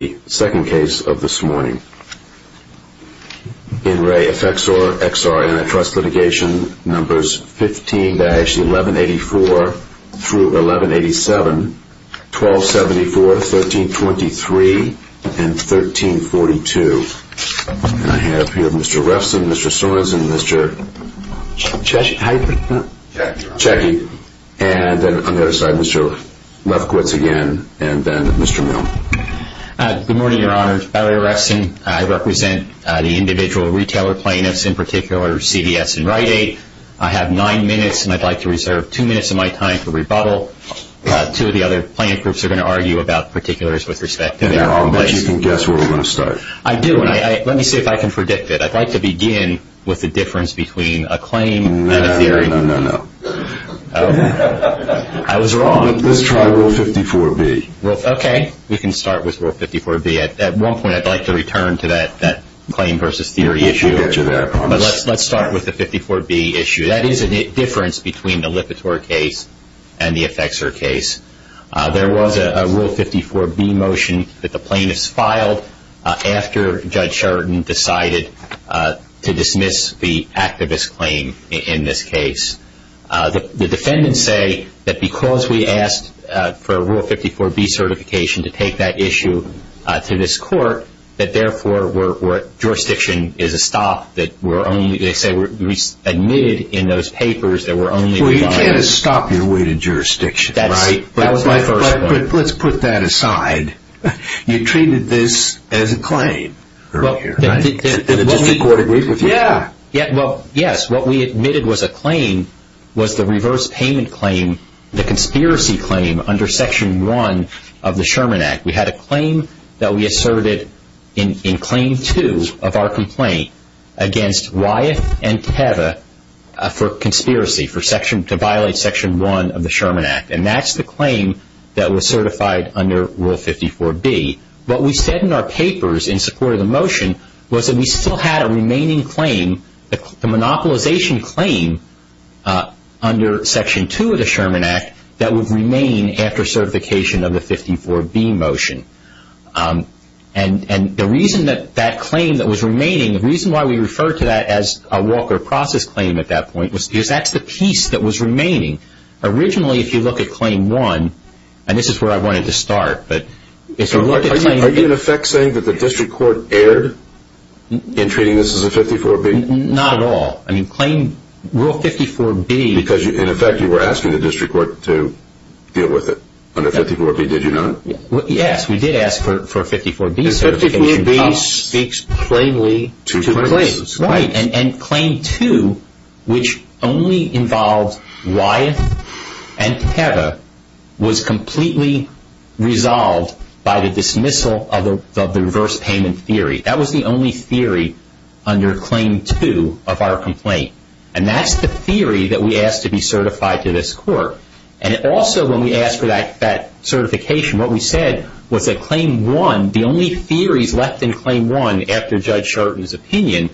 numbers 15-1184-1187, 1274, 1323, and 1342. And I have here Mr. Refson, Mr. Sorensen, Mr. Refson. I represent the individual retailer plaintiffs, in particular CDS and Rite-Aid. I have nine minutes and I'd like to reserve two minutes of my time for rebuttal. Two of the other plaintiffs are going to argue about particulars with respect to their own place. I'll bet you can guess where we're going to start. I do, and let me see if I can predict it. I'd like to begin with the difference between a claim and a theory. No, no, no, no, no. I was wrong. Let's try Rule 54B. Okay, we can start with Rule 54B. At one point I'd like to return to that claim versus theory issue. I'll get you there, I promise. But let's start with the 54B issue. That is a difference between the Lipitor case and the Effexor case. There was a Rule 54B motion that the plaintiffs filed after Judge Sheridan decided to dismiss the activist claim in this case. The defendants say that because we asked for a Rule 54B certification to take that issue to this court, that therefore jurisdiction is a stop. They say we're admitted in those papers that we're only required... Well, you can't stop your way to jurisdiction, right? That was my first point. But let's put that aside. You treated this as a claim earlier, right? Did the district court agree with you? Well, yes. What we admitted was a claim was the reverse payment claim, the conspiracy claim under Section 1 of the Sherman Act. We had a claim that we asserted in Claim 2 of our complaint against Wyeth and Teva for conspiracy, to violate Section 1 of the Sherman Act. And that's the claim that was certified under Rule 54B. What we said in our papers in support of the motion was that we still had a remaining claim, the monopolization claim under Section 2 of the Sherman Act, that would remain after certification of the 54B motion. And the reason that that claim that was remaining, the reason why we referred to that as a Walker process claim at that point was because that's the piece that was remaining. Originally, if you look at Claim 1, and this is where I wanted to start, but if you look at Claim 1... Are you in effect saying that the district court erred in treating this as a 54B? Not at all. I mean, Claim... Rule 54B... Because, in effect, you were asking the district court to deal with it under 54B, did you not? Yes, we did ask for 54B certification. Because 54B speaks plainly to claims. Right. And Claim 2, which only involved Wyeth and Teva, was completely resolved by the dismissal of the reverse payment theory. That was the only theory under Claim 2 of our complaint. And that's the theory that we asked to be certified to this court. And also, when we asked for that certification, what we said was that Claim 1, the only theories left in Claim 1, after Judge Sherton's opinion,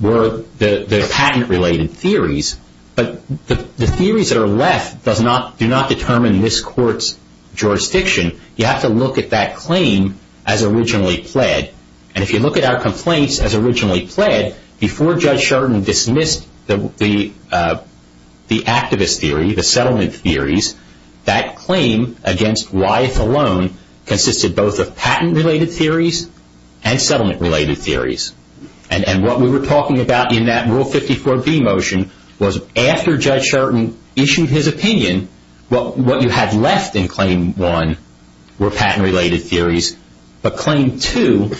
were the patent-related theories. But the theories that are left do not determine this court's jurisdiction. You have to look at that claim as originally pled. And if you look at our complaints as originally pled, before Judge Sherton dismissed the activist theory, the settlement theories, that claim against Wyeth alone consisted both of patent-related theories and settlement-related theories. And what we were talking about in that Rule 54B motion was, after Judge Sherton issued his opinion, what you had left in Claim 1 were patent-related theories. But Claim 2,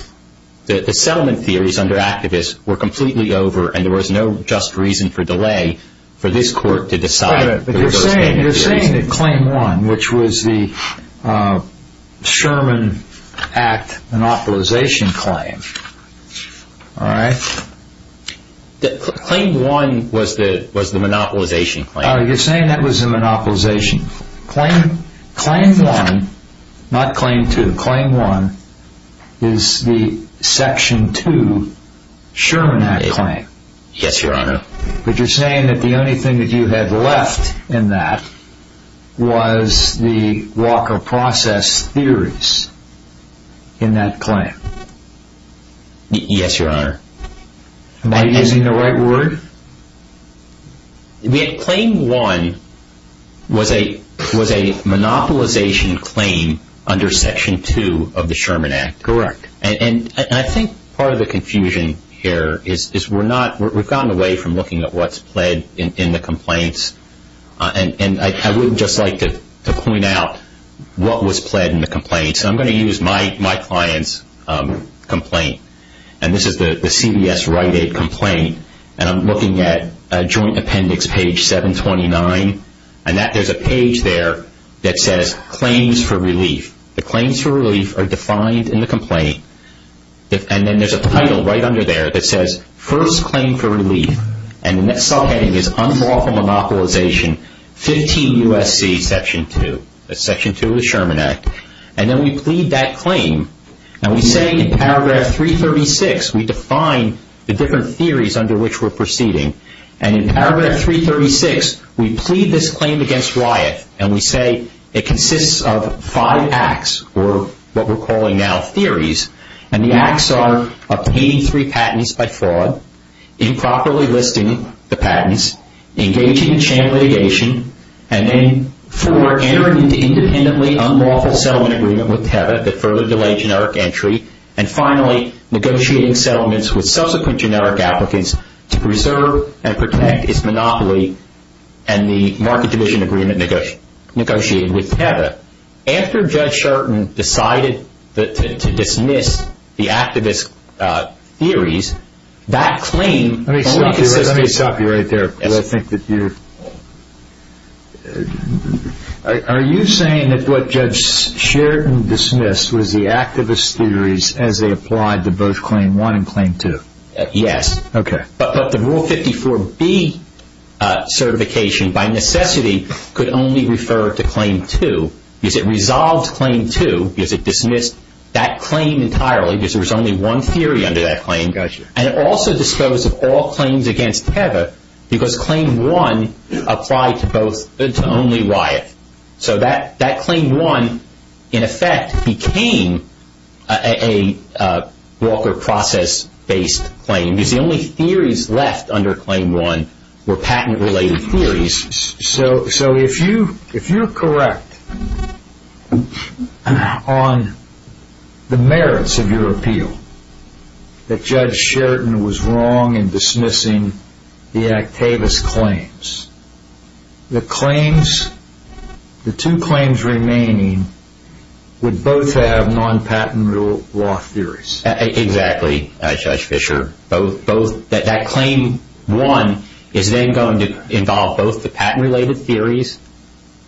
the settlement theories under activist, were completely over. And there was no just reason for delay for this court to decide the reverse payment theories. But you're saying that Claim 1, which was the Sherman Act monopolization claim, all right? Claim 1 was the monopolization claim. You're saying that was the monopolization claim. Claim 1, not Claim 2, Claim 1 is the Section 2 Sherman Act claim. Yes, Your Honor. But you're saying that the only thing that you had left in that was the Walker Process theories in that claim. Yes, Your Honor. Am I using the right word? Claim 1 was a monopolization claim under Section 2 of the Sherman Act. Correct. And I think part of the confusion here is we've gotten away from looking at what's pled in the complaints. And I would just like to point out what was pled in the complaints. I'm going to use my client's complaint. And this is the CBS Rite Aid complaint. And I'm looking at Joint Appendix page 729. And there's a page there that says Claims for Relief. The Claims for Relief are defined in the complaint. And then there's a title right under there that says First Claim for Relief. And the next subheading is Unlawful Monopolization 15 U.S.C. Section 2. That's Section 2 of the Sherman Act. And then we plead that claim. And we say in Paragraph 336, we define the different theories under which we're proceeding. And in Paragraph 336, we plead this claim against Wyeth. And we say it consists of five acts or what we're calling now theories. And the acts are obtaining three patents by fraud, improperly listing the patents, engaging in sham litigation, and then four, entering into independently unlawful settlement agreement with Teva that further delayed generic entry, and finally negotiating settlements with subsequent generic applicants to preserve and protect its monopoly and the market division agreement negotiated with Teva. After Judge Sherton decided to dismiss the activist theories, that claim only consisted of Are you saying that what Judge Sherton dismissed was the activist theories as they applied to both Claim 1 and Claim 2? Yes. Okay. But the Rule 54B certification by necessity could only refer to Claim 2 because it resolved Claim 2 because it dismissed that claim entirely because there was only one theory under that claim. Gotcha. And it also disposed of all claims against Teva because Claim 1 applied to only Wyeth. So that Claim 1, in effect, became a Walker process-based claim because the only theories left under Claim 1 were patent-related theories. So if you're correct on the merits of your appeal that Judge Sherton was wrong in dismissing the activist claims, the two claims remaining would both have non-patent rule law theories. Exactly, Judge Fischer. That Claim 1 is then going to involve both the patent-related theories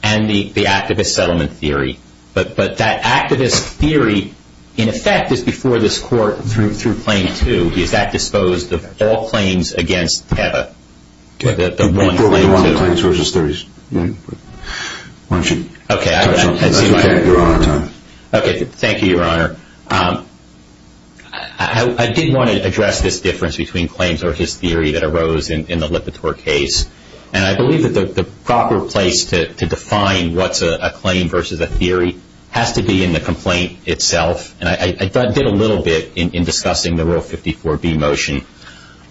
and the activist settlement theory. But that activist theory, in effect, is before this Court through Claim 2 because that disposed of all claims against Teva. Okay. The one claims versus theories. Why don't you touch on that? Okay. That's okay. You're on time. Okay. Thank you, Your Honor. I did want to address this difference between claims versus theory that arose in the Lipitor case. And I believe that the proper place to define what's a claim versus a theory has to be in the complaint itself. And I did a little bit in discussing the Rule 54b motion.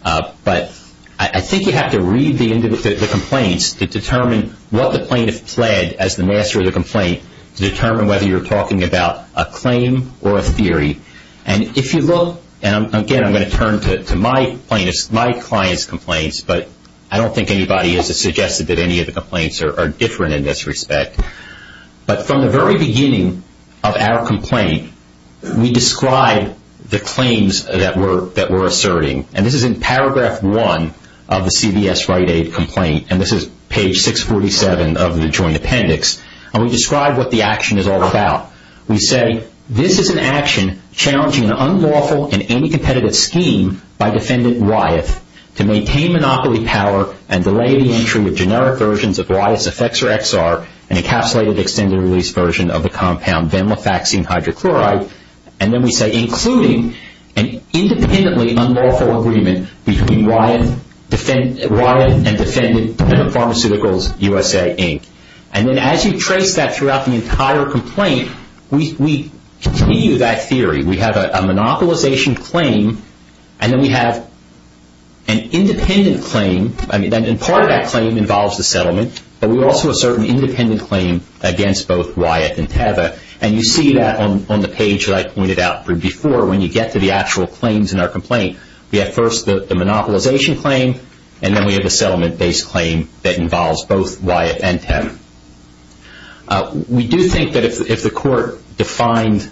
But I think you have to read the complaints to determine what the plaintiff pled as the master of the complaint to determine whether you're talking about a claim or a theory. And if you look, and again, I'm going to turn to my client's complaints, but I don't think anybody has suggested that any of the complaints are different in this respect. But from the very beginning of our complaint, we describe the claims that we're asserting. And this is in Paragraph 1 of the CVS Right Aid complaint. And this is Page 647 of the Joint Appendix. And we describe what the action is all about. We say, this is an action challenging an unlawful and anti-competitive scheme by Defendant Wyeth to maintain monopoly power and delay the entry with generic versions of Wyeth's Effexor XR and encapsulated extended release version of the compound venlafaxine hydrochloride. And then we say, including an independently unlawful agreement between Wyeth and Defendant Pharmaceuticals USA, Inc. And then as you trace that throughout the entire complaint, we continue that theory. We have a monopolization claim, and then we have an independent claim. And part of that claim involves the settlement, but we also assert an independent claim against both Wyeth and Teva. And you see that on the page that I pointed out before when you get to the actual claims in our complaint. We have first the monopolization claim, and then we have a settlement-based claim that involves both Wyeth and Teva. We do think that if the court defined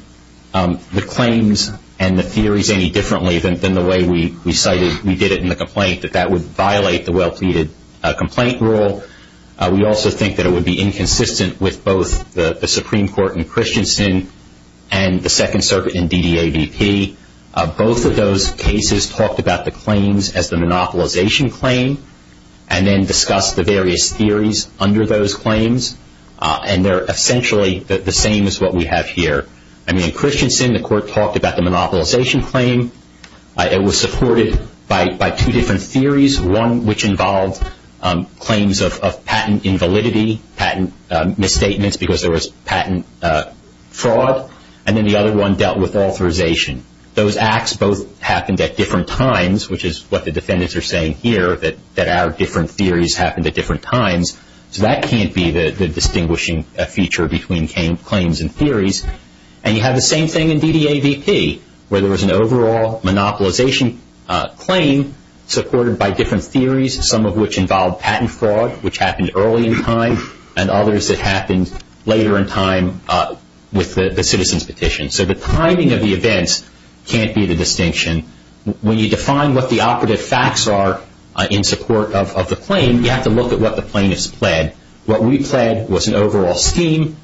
the claims and the theories any differently than the way we cited, we did it in the complaint, that that would violate the well-pleaded complaint rule. We also think that it would be inconsistent with both the Supreme Court in Christensen and the Second Circuit in DDAVP. Both of those cases talked about the claims as the monopolization claim and then discussed the various theories under those claims. And they're essentially the same as what we have here. I mean, in Christensen, the court talked about the monopolization claim. It was supported by two different theories, one which involved claims of patent invalidity, patent misstatements because there was patent fraud, and then the other one dealt with authorization. Those acts both happened at different times, which is what the defendants are saying here, that our different theories happened at different times. So that can't be the distinguishing feature between claims and theories. And you have the same thing in DDAVP, where there was an overall monopolization claim supported by different theories, some of which involved patent fraud, which happened early in time, and others that happened later in time with the citizen's petition. So the timing of the events can't be the distinction. When you define what the operative facts are in support of the claim, you have to look at what the plaintiffs pled. What we pled was an overall scheme,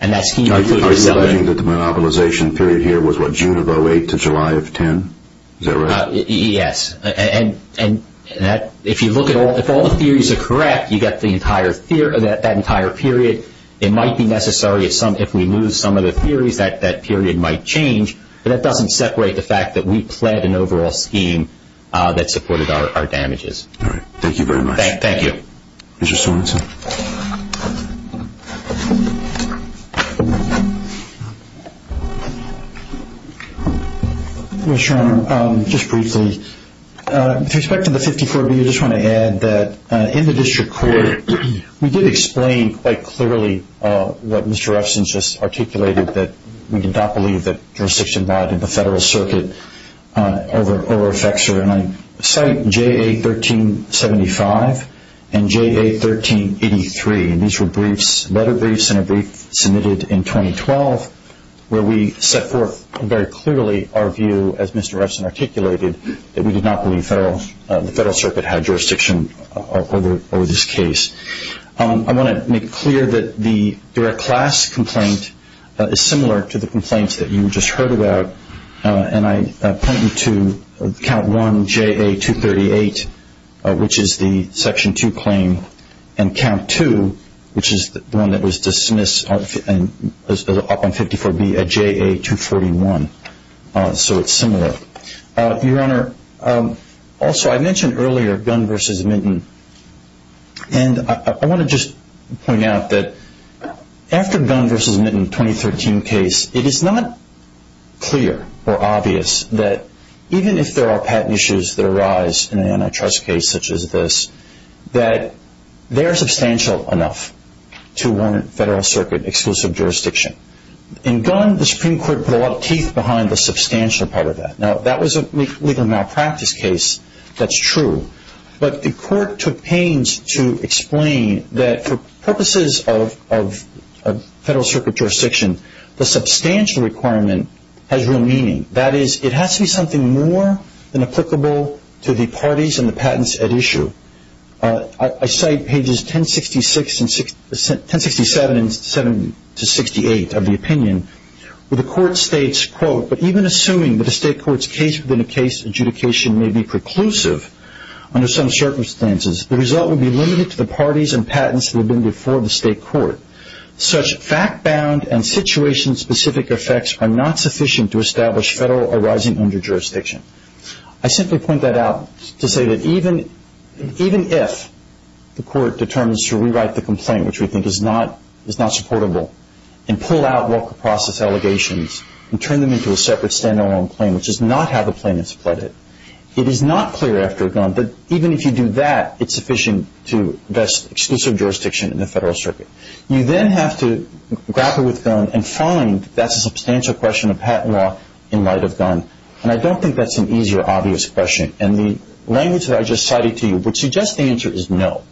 and that scheme included a settlement. Are you alleging that the monopolization period here was, what, June of 08 to July of 10? Is that right? Yes. And if all the theories are correct, you get that entire period. It might be necessary if we lose some of the theories, that that period might change, but that doesn't separate the fact that we pled an overall scheme that supported our damages. All right. Thank you very much. Thank you. Mr. Sorensen? Mr. Chairman, just briefly, with respect to the 54B, I do just want to add that in the district court, we did explain quite clearly what Mr. Refson just articulated, that we did not believe that jurisdiction lied to the Federal Circuit over a fixer. And I cite JA1375 and JA1383, and these were briefs, letter briefs, and a brief submitted in 2012 where we set forth very clearly our view, as Mr. Refson articulated, that we did not believe the Federal Circuit had jurisdiction over this case. I want to make it clear that the direct class complaint is similar to the complaints that you just heard about, and I point you to Count 1 JA238, which is the Section 2 claim, and Count 2, which is the one that was dismissed up on 54B, a JA241. So it's similar. Your Honor, also I mentioned earlier Gunn v. Minton, and I want to just point out that after the Gunn v. Minton 2013 case, it is not clear or obvious that even if there are patent issues that arise in an antitrust case such as this, that they are substantial enough to warrant Federal Circuit exclusive jurisdiction. In Gunn, the Supreme Court put a lot of teeth behind the substantial part of that. Now, if that was a legal malpractice case, that's true, but the Court took pains to explain that for purposes of Federal Circuit jurisdiction, the substantial requirement has real meaning. That is, it has to be something more than applicable to the parties and the patents at issue. I cite pages 1067 and 768 of the opinion where the Court states, quote, but even assuming that a state court's case within a case adjudication may be preclusive under some circumstances, the result would be limited to the parties and patents that have been before the state court. Such fact-bound and situation-specific effects are not sufficient to establish Federal arising under jurisdiction. I simply point that out to say that even if the Court determines to rewrite the complaint, which we think is not supportable, and pull out Walker Process allegations and turn them into a separate stand-alone claim, which is not how the plaintiffs fled it, it is not clear after Gunn that even if you do that, it's sufficient to invest exclusive jurisdiction in the Federal Circuit. You then have to grapple with Gunn and find that's a substantial question of patent law in light of Gunn, and I don't think that's an easy or obvious question. And the language that I just cited to you would suggest the answer is no.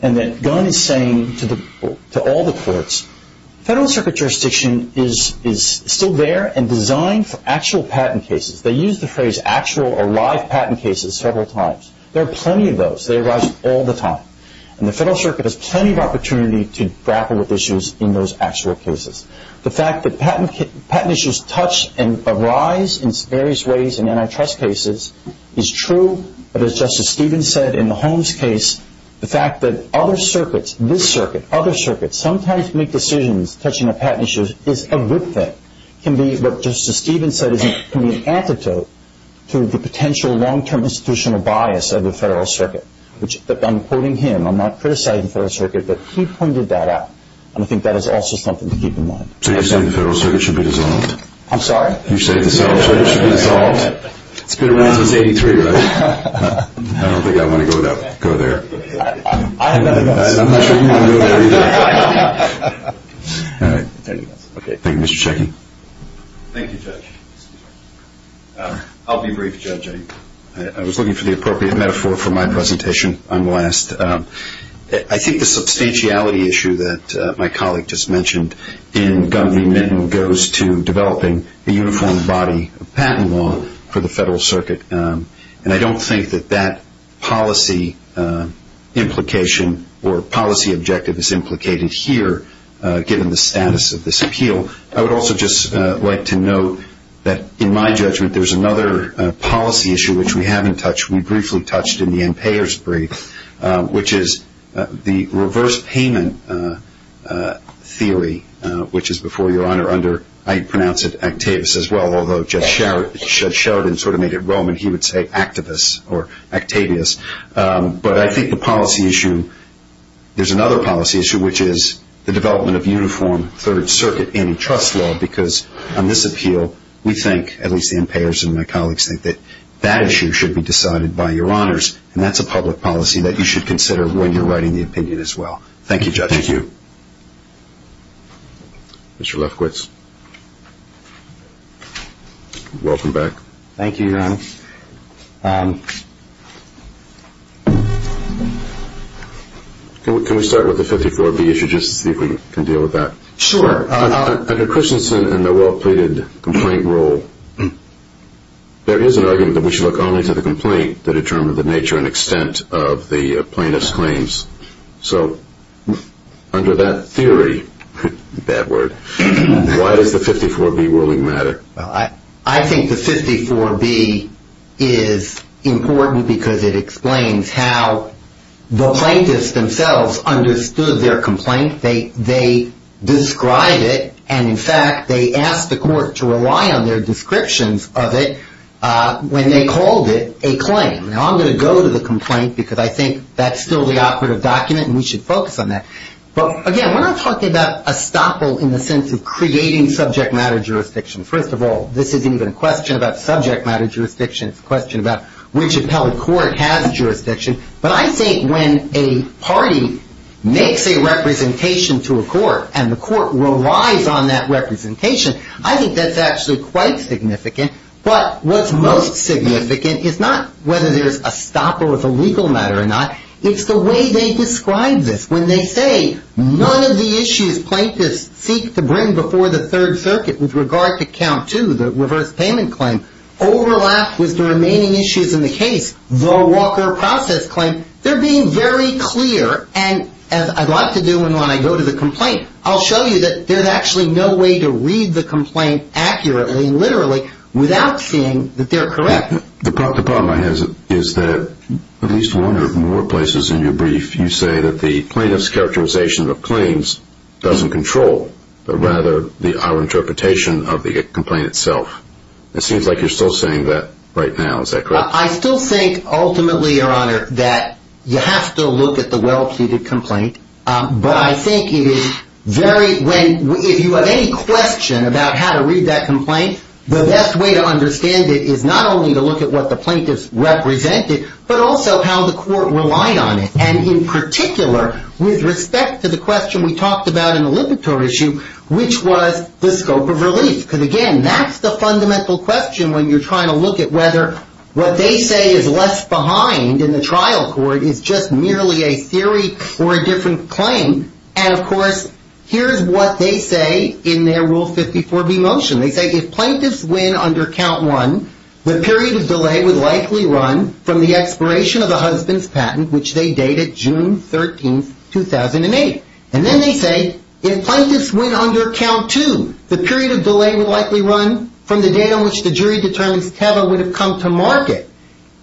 And that Gunn is saying to all the courts, Federal Circuit jurisdiction is still there and designed for actual patent cases. They use the phrase actual or live patent cases several times. There are plenty of those. They arise all the time. And the Federal Circuit has plenty of opportunity to grapple with issues in those actual cases. The fact that patent issues touch and arise in various ways in antitrust cases is true, but as Justice Stevens said in the Holmes case, the fact that other circuits, this circuit, other circuits, sometimes make decisions touching on patent issues is a good thing, can be what Justice Stevens said can be an antidote to the potential long-term institutional bias of the Federal Circuit. I'm quoting him. I'm not criticizing the Federal Circuit, but he pointed that out, and I think that is also something to keep in mind. So you're saying the Federal Circuit should be dissolved? I'm sorry? You're saying the Federal Circuit should be dissolved? It's been around since 83, right? I don't think I want to go there. I have nothing else. I'm not sure you want to go there either. All right. Thank you, Mr. Checkey. Thank you, Judge. I'll be brief, Judge. I was looking for the appropriate metaphor for my presentation on the last. I think the substantiality issue that my colleague just mentioned in Gunvey-Mitton goes to developing a uniform body of patent law for the Federal Circuit, and I don't think that that policy implication or policy objective is implicated here, given the status of this appeal. I would also just like to note that, in my judgment, there's another policy issue which we haven't touched. We briefly touched in the impayer's brief, which is the reverse payment theory, which is before your Honor under, I pronounce it, Actavius as well, although Judge Sheridan sort of made it Roman. He would say Activus or Actavius. But I think the policy issue, there's another policy issue, which is the development of uniform Third Circuit antitrust law, because on this appeal we think, at least the impayers and my colleagues think, that that issue should be decided by your Honors, and that's a public policy that you should consider when you're writing the opinion as well. Thank you, Judge. Thank you. Mr. Lefkowitz, welcome back. Thank you, Your Honor. Can we start with the 54B issue, just to see if we can deal with that? Sure. Under Christensen and the well-pleaded complaint rule, there is an argument that we should look only to the complaint to determine the nature and extent of the plaintiff's claims. So under that theory, bad word, why does the 54B ruling matter? I think the 54B is important because it explains how the plaintiffs themselves understood their complaint. They described it, and, in fact, they asked the court to rely on their descriptions of it when they called it a claim. Now, I'm going to go to the complaint, because I think that's still the operative document, and we should focus on that. But, again, we're not talking about estoppel in the sense of creating subject matter jurisdiction. First of all, this isn't even a question about subject matter jurisdiction. It's a question about which appellate court has jurisdiction. But I think when a party makes a representation to a court, and the court relies on that representation, I think that's actually quite significant. But what's most significant is not whether there's estoppel as a legal matter or not. It's the way they describe this. When they say none of the issues plaintiffs seek to bring before the Third Circuit with regard to Count 2, the reverse payment claim, overlapped with the remaining issues in the case, the Walker process claim, they're being very clear, and as I'd like to do when I go to the complaint, I'll show you that there's actually no way to read the complaint accurately, literally, without seeing that they're correct. The problem I have is that at least one or more places in your brief, you say that the plaintiff's characterization of claims doesn't control, but rather our interpretation of the complaint itself. It seems like you're still saying that right now. Is that correct? I still think, ultimately, Your Honor, that you have to look at the well-pleaded complaint. But I think it is very – if you have any question about how to read that complaint, the best way to understand it is not only to look at what the plaintiff's represented, but also how the court relied on it. And in particular, with respect to the question we talked about in the liberatory issue, which was the scope of relief. Because, again, that's the fundamental question when you're trying to look at whether what they say is left behind in the trial court is just merely a theory or a different claim. And, of course, here's what they say in their Rule 54b motion. They say, if plaintiffs win under count one, the period of delay would likely run from the expiration of the husband's patent, which they dated June 13, 2008. And then they say, if plaintiffs win under count two, the period of delay would likely run from the date on which the jury determines Teva would have come to market,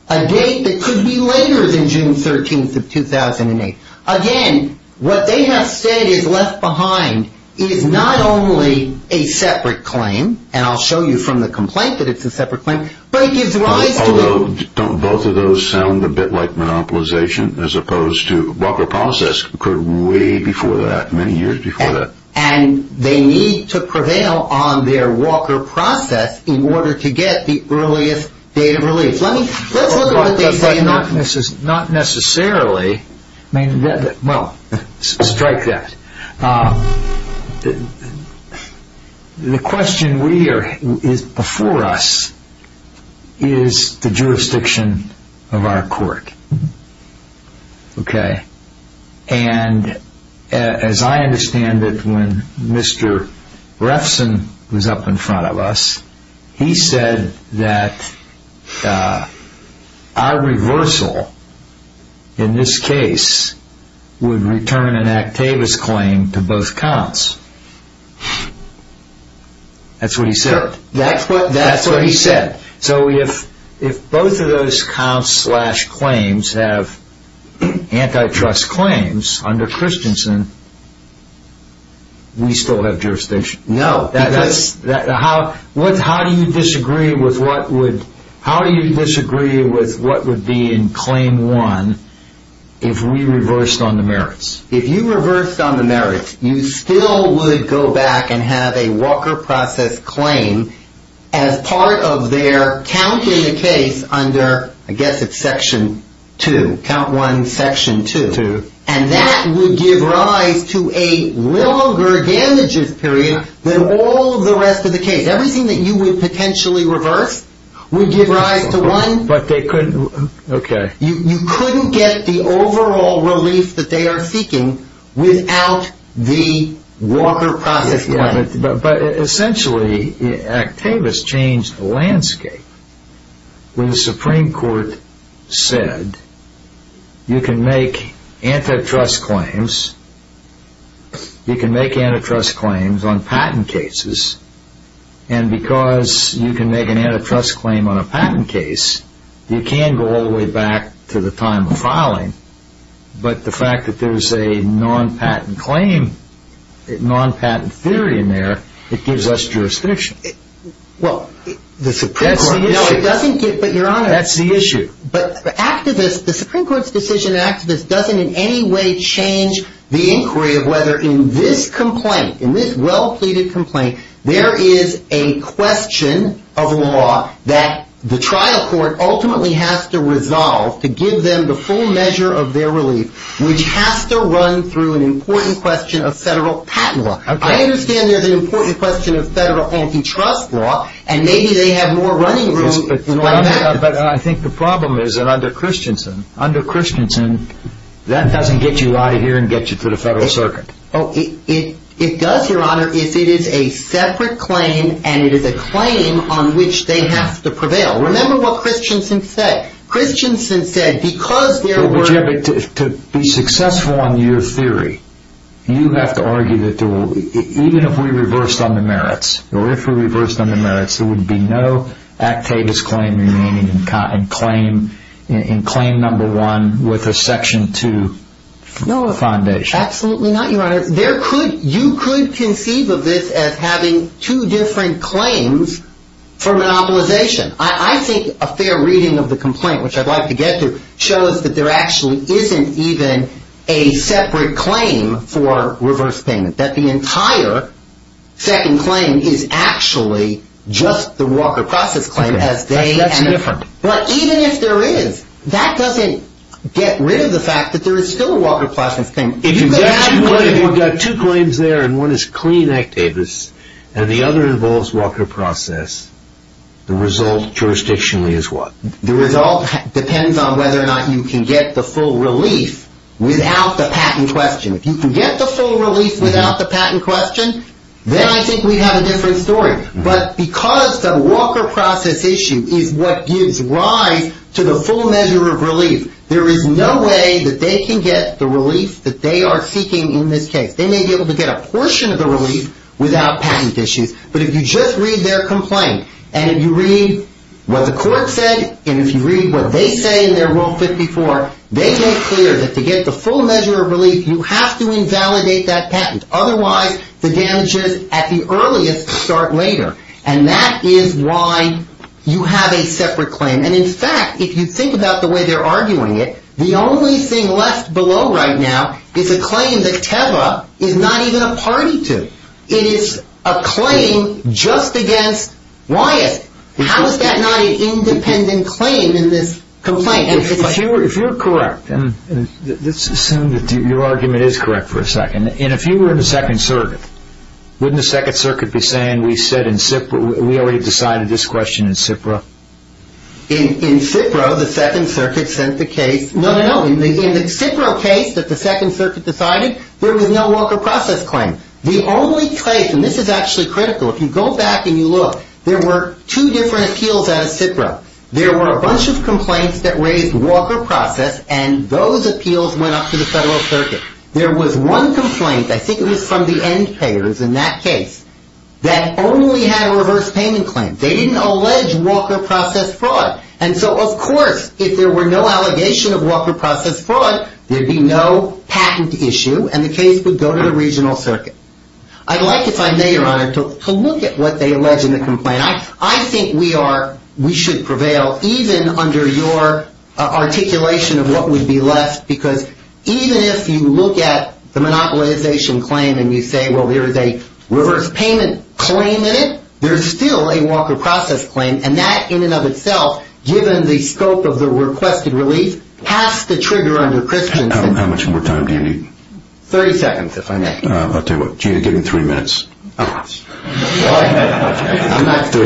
a date that could be later than June 13, 2008. Again, what they have said is left behind is not only a separate claim, and I'll show you from the complaint that it's a separate claim, but it gives rise to – Don't both of those sound a bit like monopolization as opposed to – Walker process occurred way before that, many years before that. And they need to prevail on their Walker process in order to get the earliest date of relief. Let's look at what they say in their – Not necessarily. Well, strike that. The question we are – is before us is the jurisdiction of our court. Okay. And as I understand it, when Mr. Refson was up in front of us, he said that our reversal, in this case, would return an Act Teva's claim to both counts. That's what he said. That's what he said. So if both of those counts slash claims have antitrust claims under Christensen, we still have jurisdiction. No. How do you disagree with what would be in claim one if we reversed on the merits? If you reversed on the merits, you still would go back and have a Walker process claim as part of their count in the case under – I guess it's section two. Count one, section two. And that would give rise to a longer damages period than all of the rest of the case. Everything that you would potentially reverse would give rise to one. But they couldn't – okay. You couldn't get the overall relief that they are seeking without the Walker process claim. But essentially, Act Teva's changed the landscape when the Supreme Court said you can make antitrust claims. You can make antitrust claims on patent cases. And because you can make an antitrust claim on a patent case, you can go all the way back to the time of filing. But the fact that there's a non-patent claim, non-patent theory in there, it gives us jurisdiction. Well, the Supreme Court – That's the issue. No, it doesn't give – but Your Honor – That's the issue. But the Supreme Court's decision in Act Teva's doesn't in any way change the inquiry of whether in this complaint, in this well-pleaded complaint, there is a question of law that the trial court ultimately has to resolve to give them the full measure of their relief, which has to run through an important question of federal patent law. I understand there's an important question of federal antitrust law, and maybe they have more running room. But I think the problem is that under Christensen, under Christensen, that doesn't get you out of here and get you to the federal circuit. It does, Your Honor, if it is a separate claim and it is a claim on which they have to prevail. Remember what Christensen said. Christensen said because there were – To be successful on your theory, you have to argue that even if we reversed on the merits, or if we reversed on the merits, there would be no Act Teva's claim remaining in claim number one with a section two foundation. No, absolutely not, Your Honor. There could – you could conceive of this as having two different claims for monopolization. I think a fair reading of the complaint, which I'd like to get to, shows that there actually isn't even a separate claim for reverse payment, that the entire second claim is actually just the Walker Process claim as they – That's different. But even if there is, that doesn't get rid of the fact that there is still a Walker Process claim. If you've got two claims there, and one is clean Act Teva's, and the other involves Walker Process, the result jurisdictionally is what? The result depends on whether or not you can get the full relief without the patent question. If you can get the full relief without the patent question, then I think we have a different story. But because the Walker Process issue is what gives rise to the full measure of relief, there is no way that they can get the relief that they are seeking in this case. They may be able to get a portion of the relief without patent issues, but if you just read their complaint, and if you read what the court said, and if you read what they say in their Rule 54, they make clear that to get the full measure of relief, you have to invalidate that patent. Otherwise, the damages at the earliest start later. And that is why you have a separate claim. And in fact, if you think about the way they're arguing it, the only thing left below right now is a claim that Teva is not even a party to. It is a claim just against Wyatt. How is that not an independent claim in this complaint? If you're correct, and let's assume that your argument is correct for a second, and if you were in the Second Circuit, wouldn't the Second Circuit be saying, we already decided this question in SIPRA? In SIPRA, the Second Circuit sent the case. No, no, no. In the SIPRA case that the Second Circuit decided, there was no Walker Process claim. The only case, and this is actually critical, if you go back and you look, there were two different appeals out of SIPRA. There were a bunch of complaints that raised Walker Process, and those appeals went up to the Federal Circuit. There was one complaint, I think it was from the end payers in that case, that only had a reverse payment claim. They didn't allege Walker Process fraud. And so, of course, if there were no allegation of Walker Process fraud, there'd be no patent issue, and the case would go to the Regional Circuit. I'd like, if I may, Your Honor, to look at what they allege in the complaint. I think we should prevail, even under your articulation of what would be left, because even if you look at the monopolization claim and you say, well, there is a reverse payment claim in it, there's still a Walker Process claim, and that in and of itself, given the scope of the requested relief, has to trigger under Christiansen. How much more time do you need? Thirty seconds, if I may. I'll tell you what. Give him three minutes. Thirty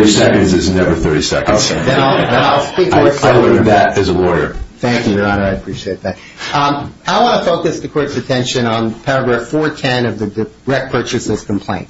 seconds is never thirty seconds. I learned that as a lawyer. Thank you, Your Honor. I appreciate that. I want to focus the Court's attention on paragraph 410 of the direct purchase system complaint.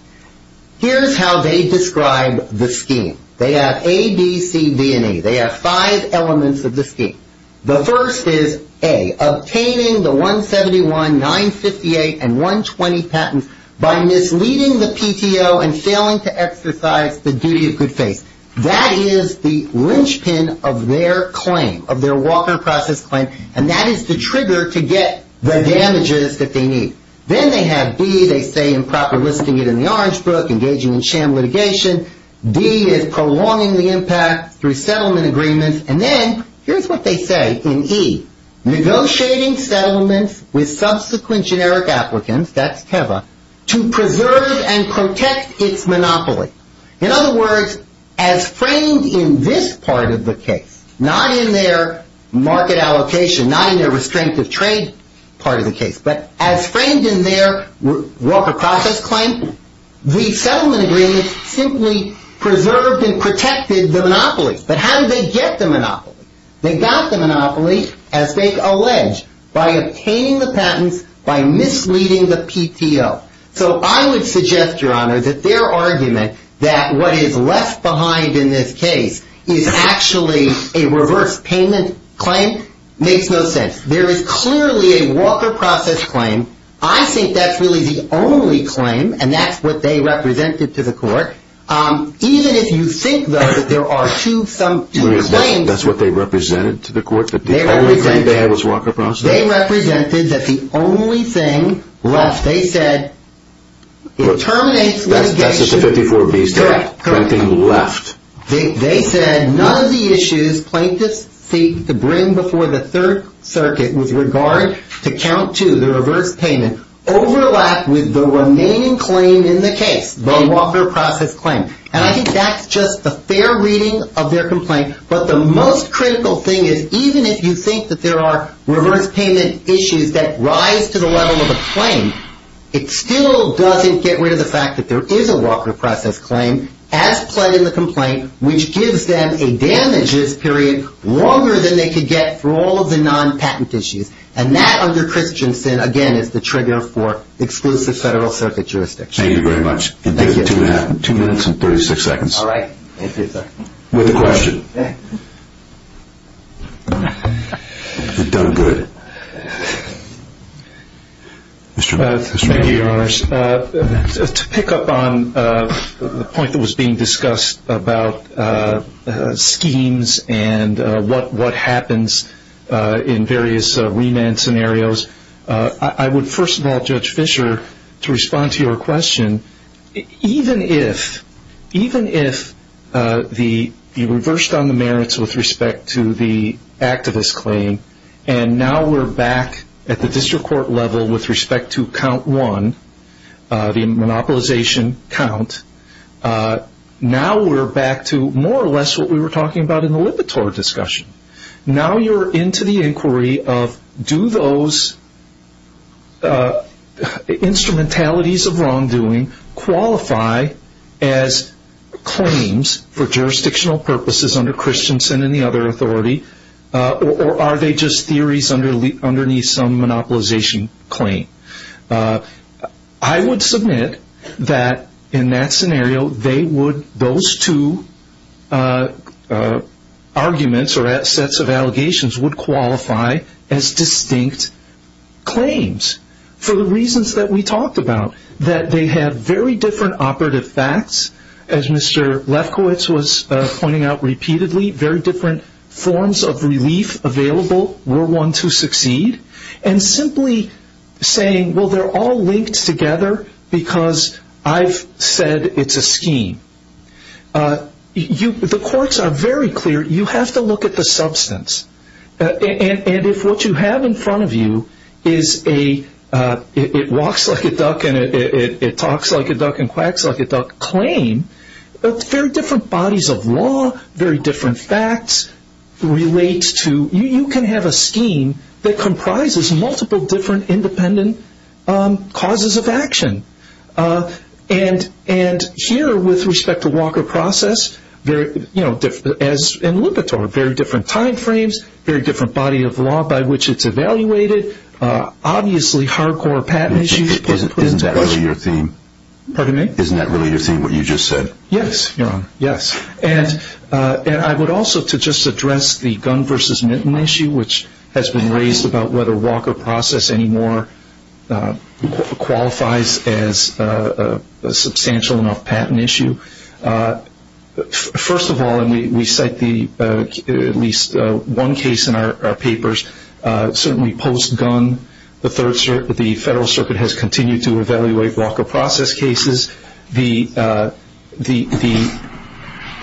Here's how they describe the scheme. They have A, B, C, D, and E. They have five elements of the scheme. The first is A, obtaining the 171, 958, and 120 patents by misleading the PTO and failing to exercise the duty of good faith. That is the linchpin of their claim, of their Walker Process claim, and that is the trigger to get the damages that they need. Then they have B, they say improper listing it in the Orange Book, engaging in sham litigation. D is prolonging the impact through settlement agreements. And then here's what they say in E, negotiating settlements with subsequent generic applicants, that's TEVA, to preserve and protect its monopoly. In other words, as framed in this part of the case, not in their market allocation, not in their restraint of trade part of the case, but as framed in their Walker Process claim, the settlement agreement simply preserved and protected the monopoly. But how did they get the monopoly? They got the monopoly, as they allege, by obtaining the patents, by misleading the PTO. So I would suggest, Your Honor, that their argument that what is left behind in this case is actually a reverse payment claim makes no sense. There is clearly a Walker Process claim. I think that's really the only claim, and that's what they represented to the court. Even if you think, though, that there are two claims... That's what they represented to the court? That the only claim they had was Walker Process? They represented that the only thing left, they said, it terminates litigation. That's just a 54-B statement. Correct. Nothing left. They said none of the issues plaintiffs seek to bring before the Third Circuit with regard to count two, the reverse payment, overlap with the remaining claim in the case, the Walker Process claim. And I think that's just a fair reading of their complaint. But the most critical thing is, even if you think that there are reverse payment issues that rise to the level of a claim, it still doesn't get rid of the fact that there is a Walker Process claim as pled in the complaint, which gives them a damages period longer than they could get for all of the non-patent issues. And that, under Christiansen, again, is the trigger for exclusive Federal Circuit jurisdiction. Thank you very much. Thank you. Two minutes and 36 seconds. All right. Thank you, sir. With a question. You've done good. Thank you, Your Honors. To pick up on the point that was being discussed about schemes and what happens in various remand scenarios, I would first of all, Judge Fischer, to respond to your question, even if you reversed on the merits with respect to the activist claim, and now we're back at the district court level with respect to count one, the monopolization count, now we're back to more or less what we were talking about in the Lipitor discussion. Now you're into the inquiry of do those instrumentalities of wrongdoing qualify as claims for jurisdictional purposes under Christiansen and the other authority, or are they just theories underneath some monopolization claim? I would submit that, in that scenario, those two arguments or sets of allegations would qualify as distinct claims, for the reasons that we talked about, that they have very different operative facts. As Mr. Lefkowitz was pointing out repeatedly, very different forms of relief available were one to succeed. And simply saying, well, they're all linked together because I've said it's a scheme. The courts are very clear. You have to look at the substance. And if what you have in front of you is a it walks like a duck and it talks like a duck and quacks like a duck claim, very different bodies of law, very different facts relate to, you can have a scheme that comprises multiple different independent causes of action. And here, with respect to Walker process, as in Lipitor, very different time frames, very different body of law by which it's evaluated, obviously hardcore patent issues. Isn't that really your theme? Pardon me? Isn't that really your theme, what you just said? Yes, Your Honor, yes. And I would also, to just address the gun versus mitten issue, which has been raised about whether Walker process anymore qualifies as a substantial enough patent issue, first of all, and we cite at least one case in our papers, certainly post-gun, the Federal Circuit has continued to evaluate Walker process cases. The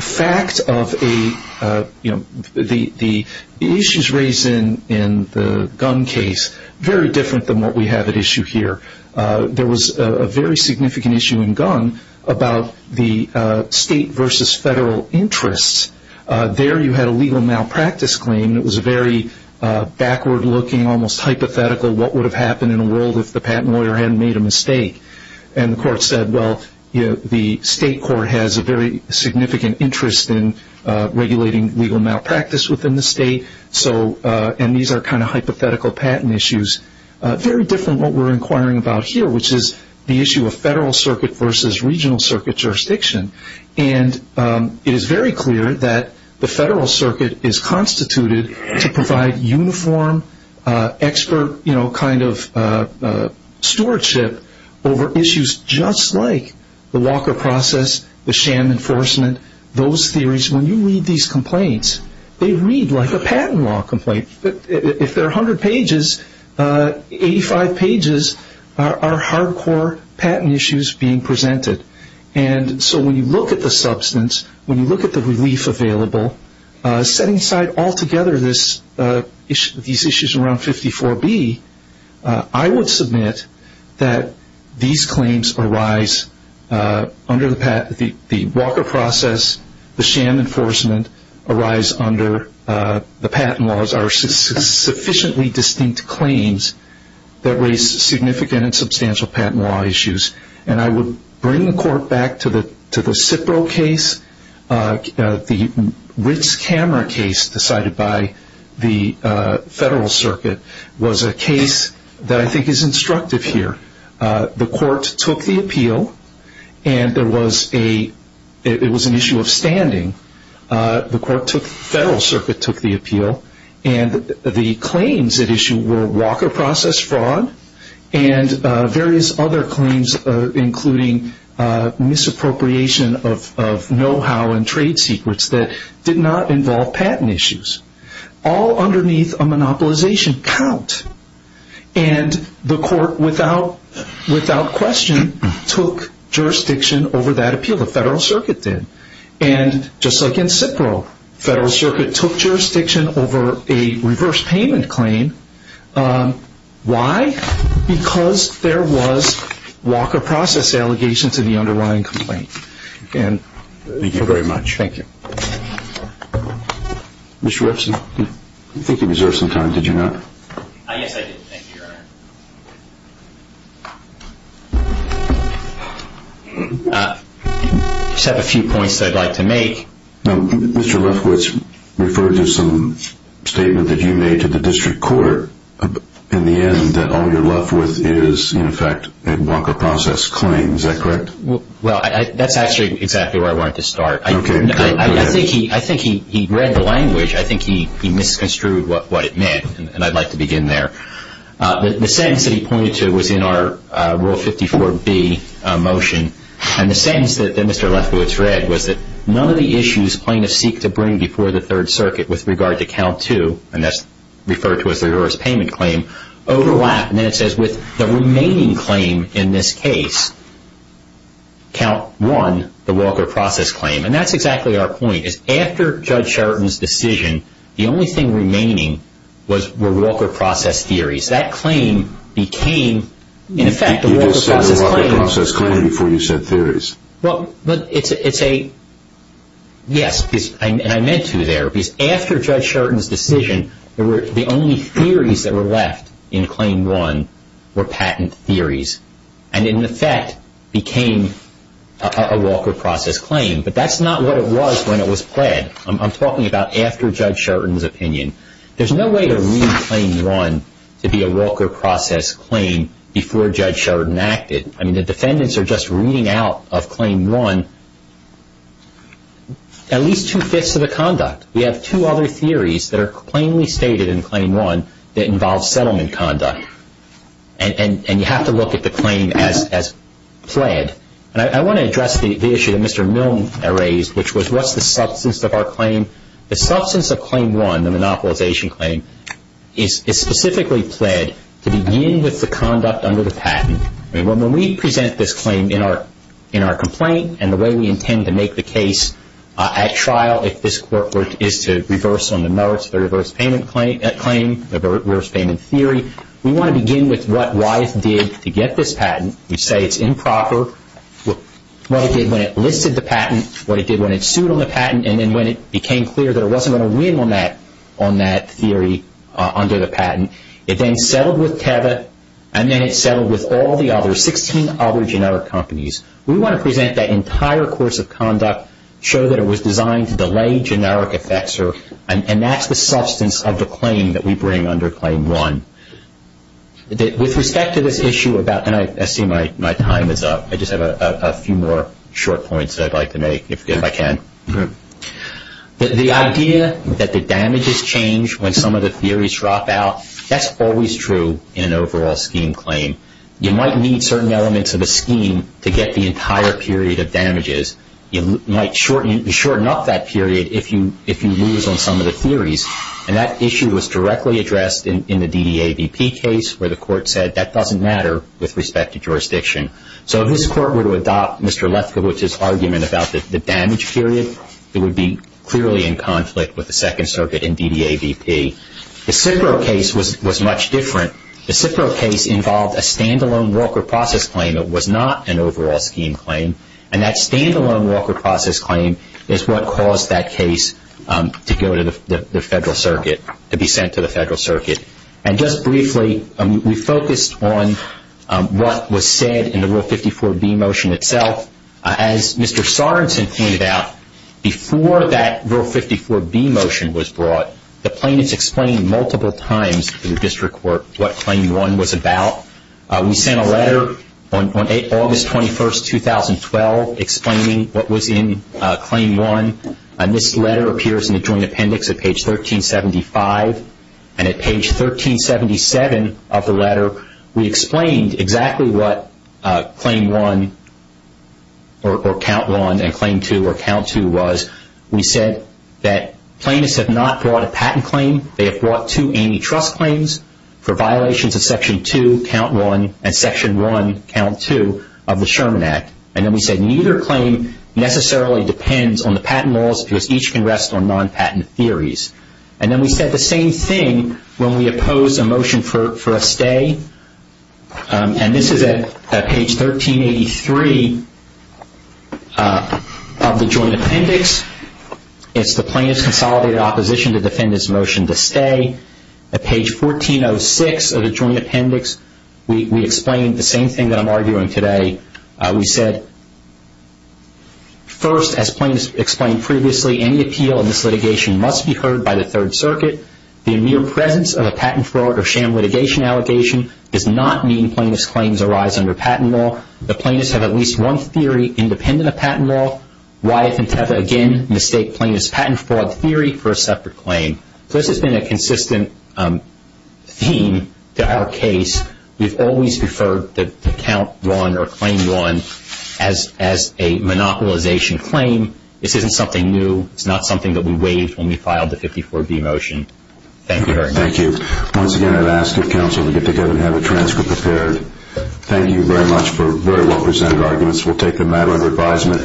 fact of the issues raised in the gun case, very different than what we have at issue here. There was a very significant issue in gun about the state versus federal interests. There you had a legal malpractice claim. It was a very backward-looking, almost hypothetical, what would have happened in a world if the patent lawyer hadn't made a mistake. And the court said, well, you know, the state court has a very significant interest in regulating legal malpractice within the state. So, and these are kind of hypothetical patent issues. Very different what we're inquiring about here, which is the issue of federal circuit versus regional circuit jurisdiction. And it is very clear that the Federal Circuit is constituted to provide uniform expert, you know, kind of stewardship over issues just like the Walker process, the sham enforcement, those theories. When you read these complaints, they read like a patent law complaint. If they're 100 pages, 85 pages are hardcore patent issues being presented. And so when you look at the substance, when you look at the relief available, setting aside altogether these issues around 54B, I would submit that these claims arise under the Walker process, the sham enforcement arise under the patent laws are sufficiently distinct claims that raise significant and substantial patent law issues. And I would bring the court back to the Cipro case, the Ritz-Cammer case decided by the Federal Circuit, was a case that I think is instructive here. The court took the appeal, and there was a, it was an issue of standing. The court took, Federal Circuit took the appeal, and the claims at issue were Walker process fraud and various other claims including misappropriation of know-how and trade secrets that did not involve patent issues. All underneath a monopolization count. And the court without question took jurisdiction over that appeal. The Federal Circuit did. And just like in Cipro, Federal Circuit took jurisdiction over a reverse payment claim. Why? Because there was Walker process allegations in the underlying complaint. Thank you very much. Thank you. Mr. Epstein, I think you deserve some time, did you not? Yes, I did. Thank you, Your Honor. I just have a few points that I'd like to make. Mr. Lefkowitz referred to some statement that you made to the district court in the end that all you're left with is, in effect, a Walker process claim. Is that correct? Well, that's actually exactly where I wanted to start. Okay. I think he read the language. I think he misconstrued what it meant, and I'd like to begin there. The sentence that he pointed to was in our Rule 54B motion. And the sentence that Mr. Lefkowitz read was that none of the issues plaintiffs seek to bring before the Third Circuit with regard to Count 2, and that's referred to as the reverse payment claim, overlap. And then it says with the remaining claim in this case, Count 1, the Walker process claim. And that's exactly our point, is after Judge Sheraton's decision, the only thing remaining were Walker process theories. That claim became, in effect, a Walker process claim. You just said a Walker process claim before you said theories. Well, but it's a yes, and I meant to there, because after Judge Sheraton's decision, the only theories that were left in Claim 1 were patent theories, and in effect became a Walker process claim. But that's not what it was when it was pled. I'm talking about after Judge Sheraton's opinion. There's no way to read Claim 1 to be a Walker process claim before Judge Sheraton acted. I mean, the defendants are just reading out of Claim 1 at least two-fifths of the conduct. We have two other theories that are plainly stated in Claim 1 that involve settlement conduct. And you have to look at the claim as pled. And I want to address the issue that Mr. Milne raised, which was what's the substance of our claim? The substance of Claim 1, the monopolization claim, is specifically pled to begin with the conduct under the patent. I mean, when we present this claim in our complaint and the way we intend to make the case at trial, if this court is to reverse on the merits of the reverse payment claim, reverse payment theory, we want to begin with what Wyeth did to get this patent. We say it's improper. What it did when it listed the patent, what it did when it sued on the patent, and then when it became clear that it wasn't going to win on that theory under the patent. It then settled with Teva, and then it settled with all the other 16 other generic companies. We want to present that entire course of conduct, show that it was designed to delay generic effects, and that's the substance of the claim that we bring under Claim 1. With respect to this issue about – and I see my time is up. I just have a few more short points that I'd like to make, if I can. The idea that the damages change when some of the theories drop out, that's always true in an overall scheme claim. You might need certain elements of a scheme to get the entire period of damages. You might shorten up that period if you lose on some of the theories, and that issue was directly addressed in the DDAVP case where the court said that doesn't matter with respect to jurisdiction. So if this court were to adopt Mr. Lefkowitz's argument about the damage period, it would be clearly in conflict with the Second Circuit and DDAVP. The Cipro case was much different. The Cipro case involved a standalone Walker process claim. It was not an overall scheme claim, and that standalone Walker process claim is what caused that case to go to the Federal Circuit, to be sent to the Federal Circuit. And just briefly, we focused on what was said in the Rule 54b motion itself. As Mr. Sorensen pointed out, before that Rule 54b motion was brought, the plaintiffs explained multiple times in the district court what Claim 1 was about. We sent a letter on August 21, 2012, explaining what was in Claim 1, and this letter appears in the Joint Appendix at page 1375. And at page 1377 of the letter, we explained exactly what Claim 1 or Count 1 and Claim 2 or Count 2 was. We said that plaintiffs have not brought a patent claim. They have brought two antitrust claims for violations of Section 2, Count 1, and Section 1, Count 2 of the Sherman Act. And then we said neither claim necessarily depends on the patent laws because each can rest on non-patent theories. And then we said the same thing when we opposed a motion for a stay, and this is at page 1383 of the Joint Appendix. It's the plaintiff's consolidated opposition to the defendant's motion to stay. At page 1406 of the Joint Appendix, we explained the same thing that I'm arguing today. We said, first, as plaintiffs explained previously, any appeal in this litigation must be heard by the Third Circuit. The mere presence of a patent fraud or sham litigation allegation does not mean plaintiffs' claims arise under patent law. The plaintiffs have at least one theory independent of patent law. Wyeth and Teffa, again, mistake plaintiffs' patent fraud theory for a separate claim. So this has been a consistent theme to our case. We've always referred to Count 1 or Claim 1 as a monopolization claim. This isn't something new. It's not something that we waived when we filed the 54B motion. Thank you very much. Thank you. Once again, I'd ask if counsel would get together and have a transcript prepared. Thank you very much for very well-presented arguments. We'll take a matter of advisement.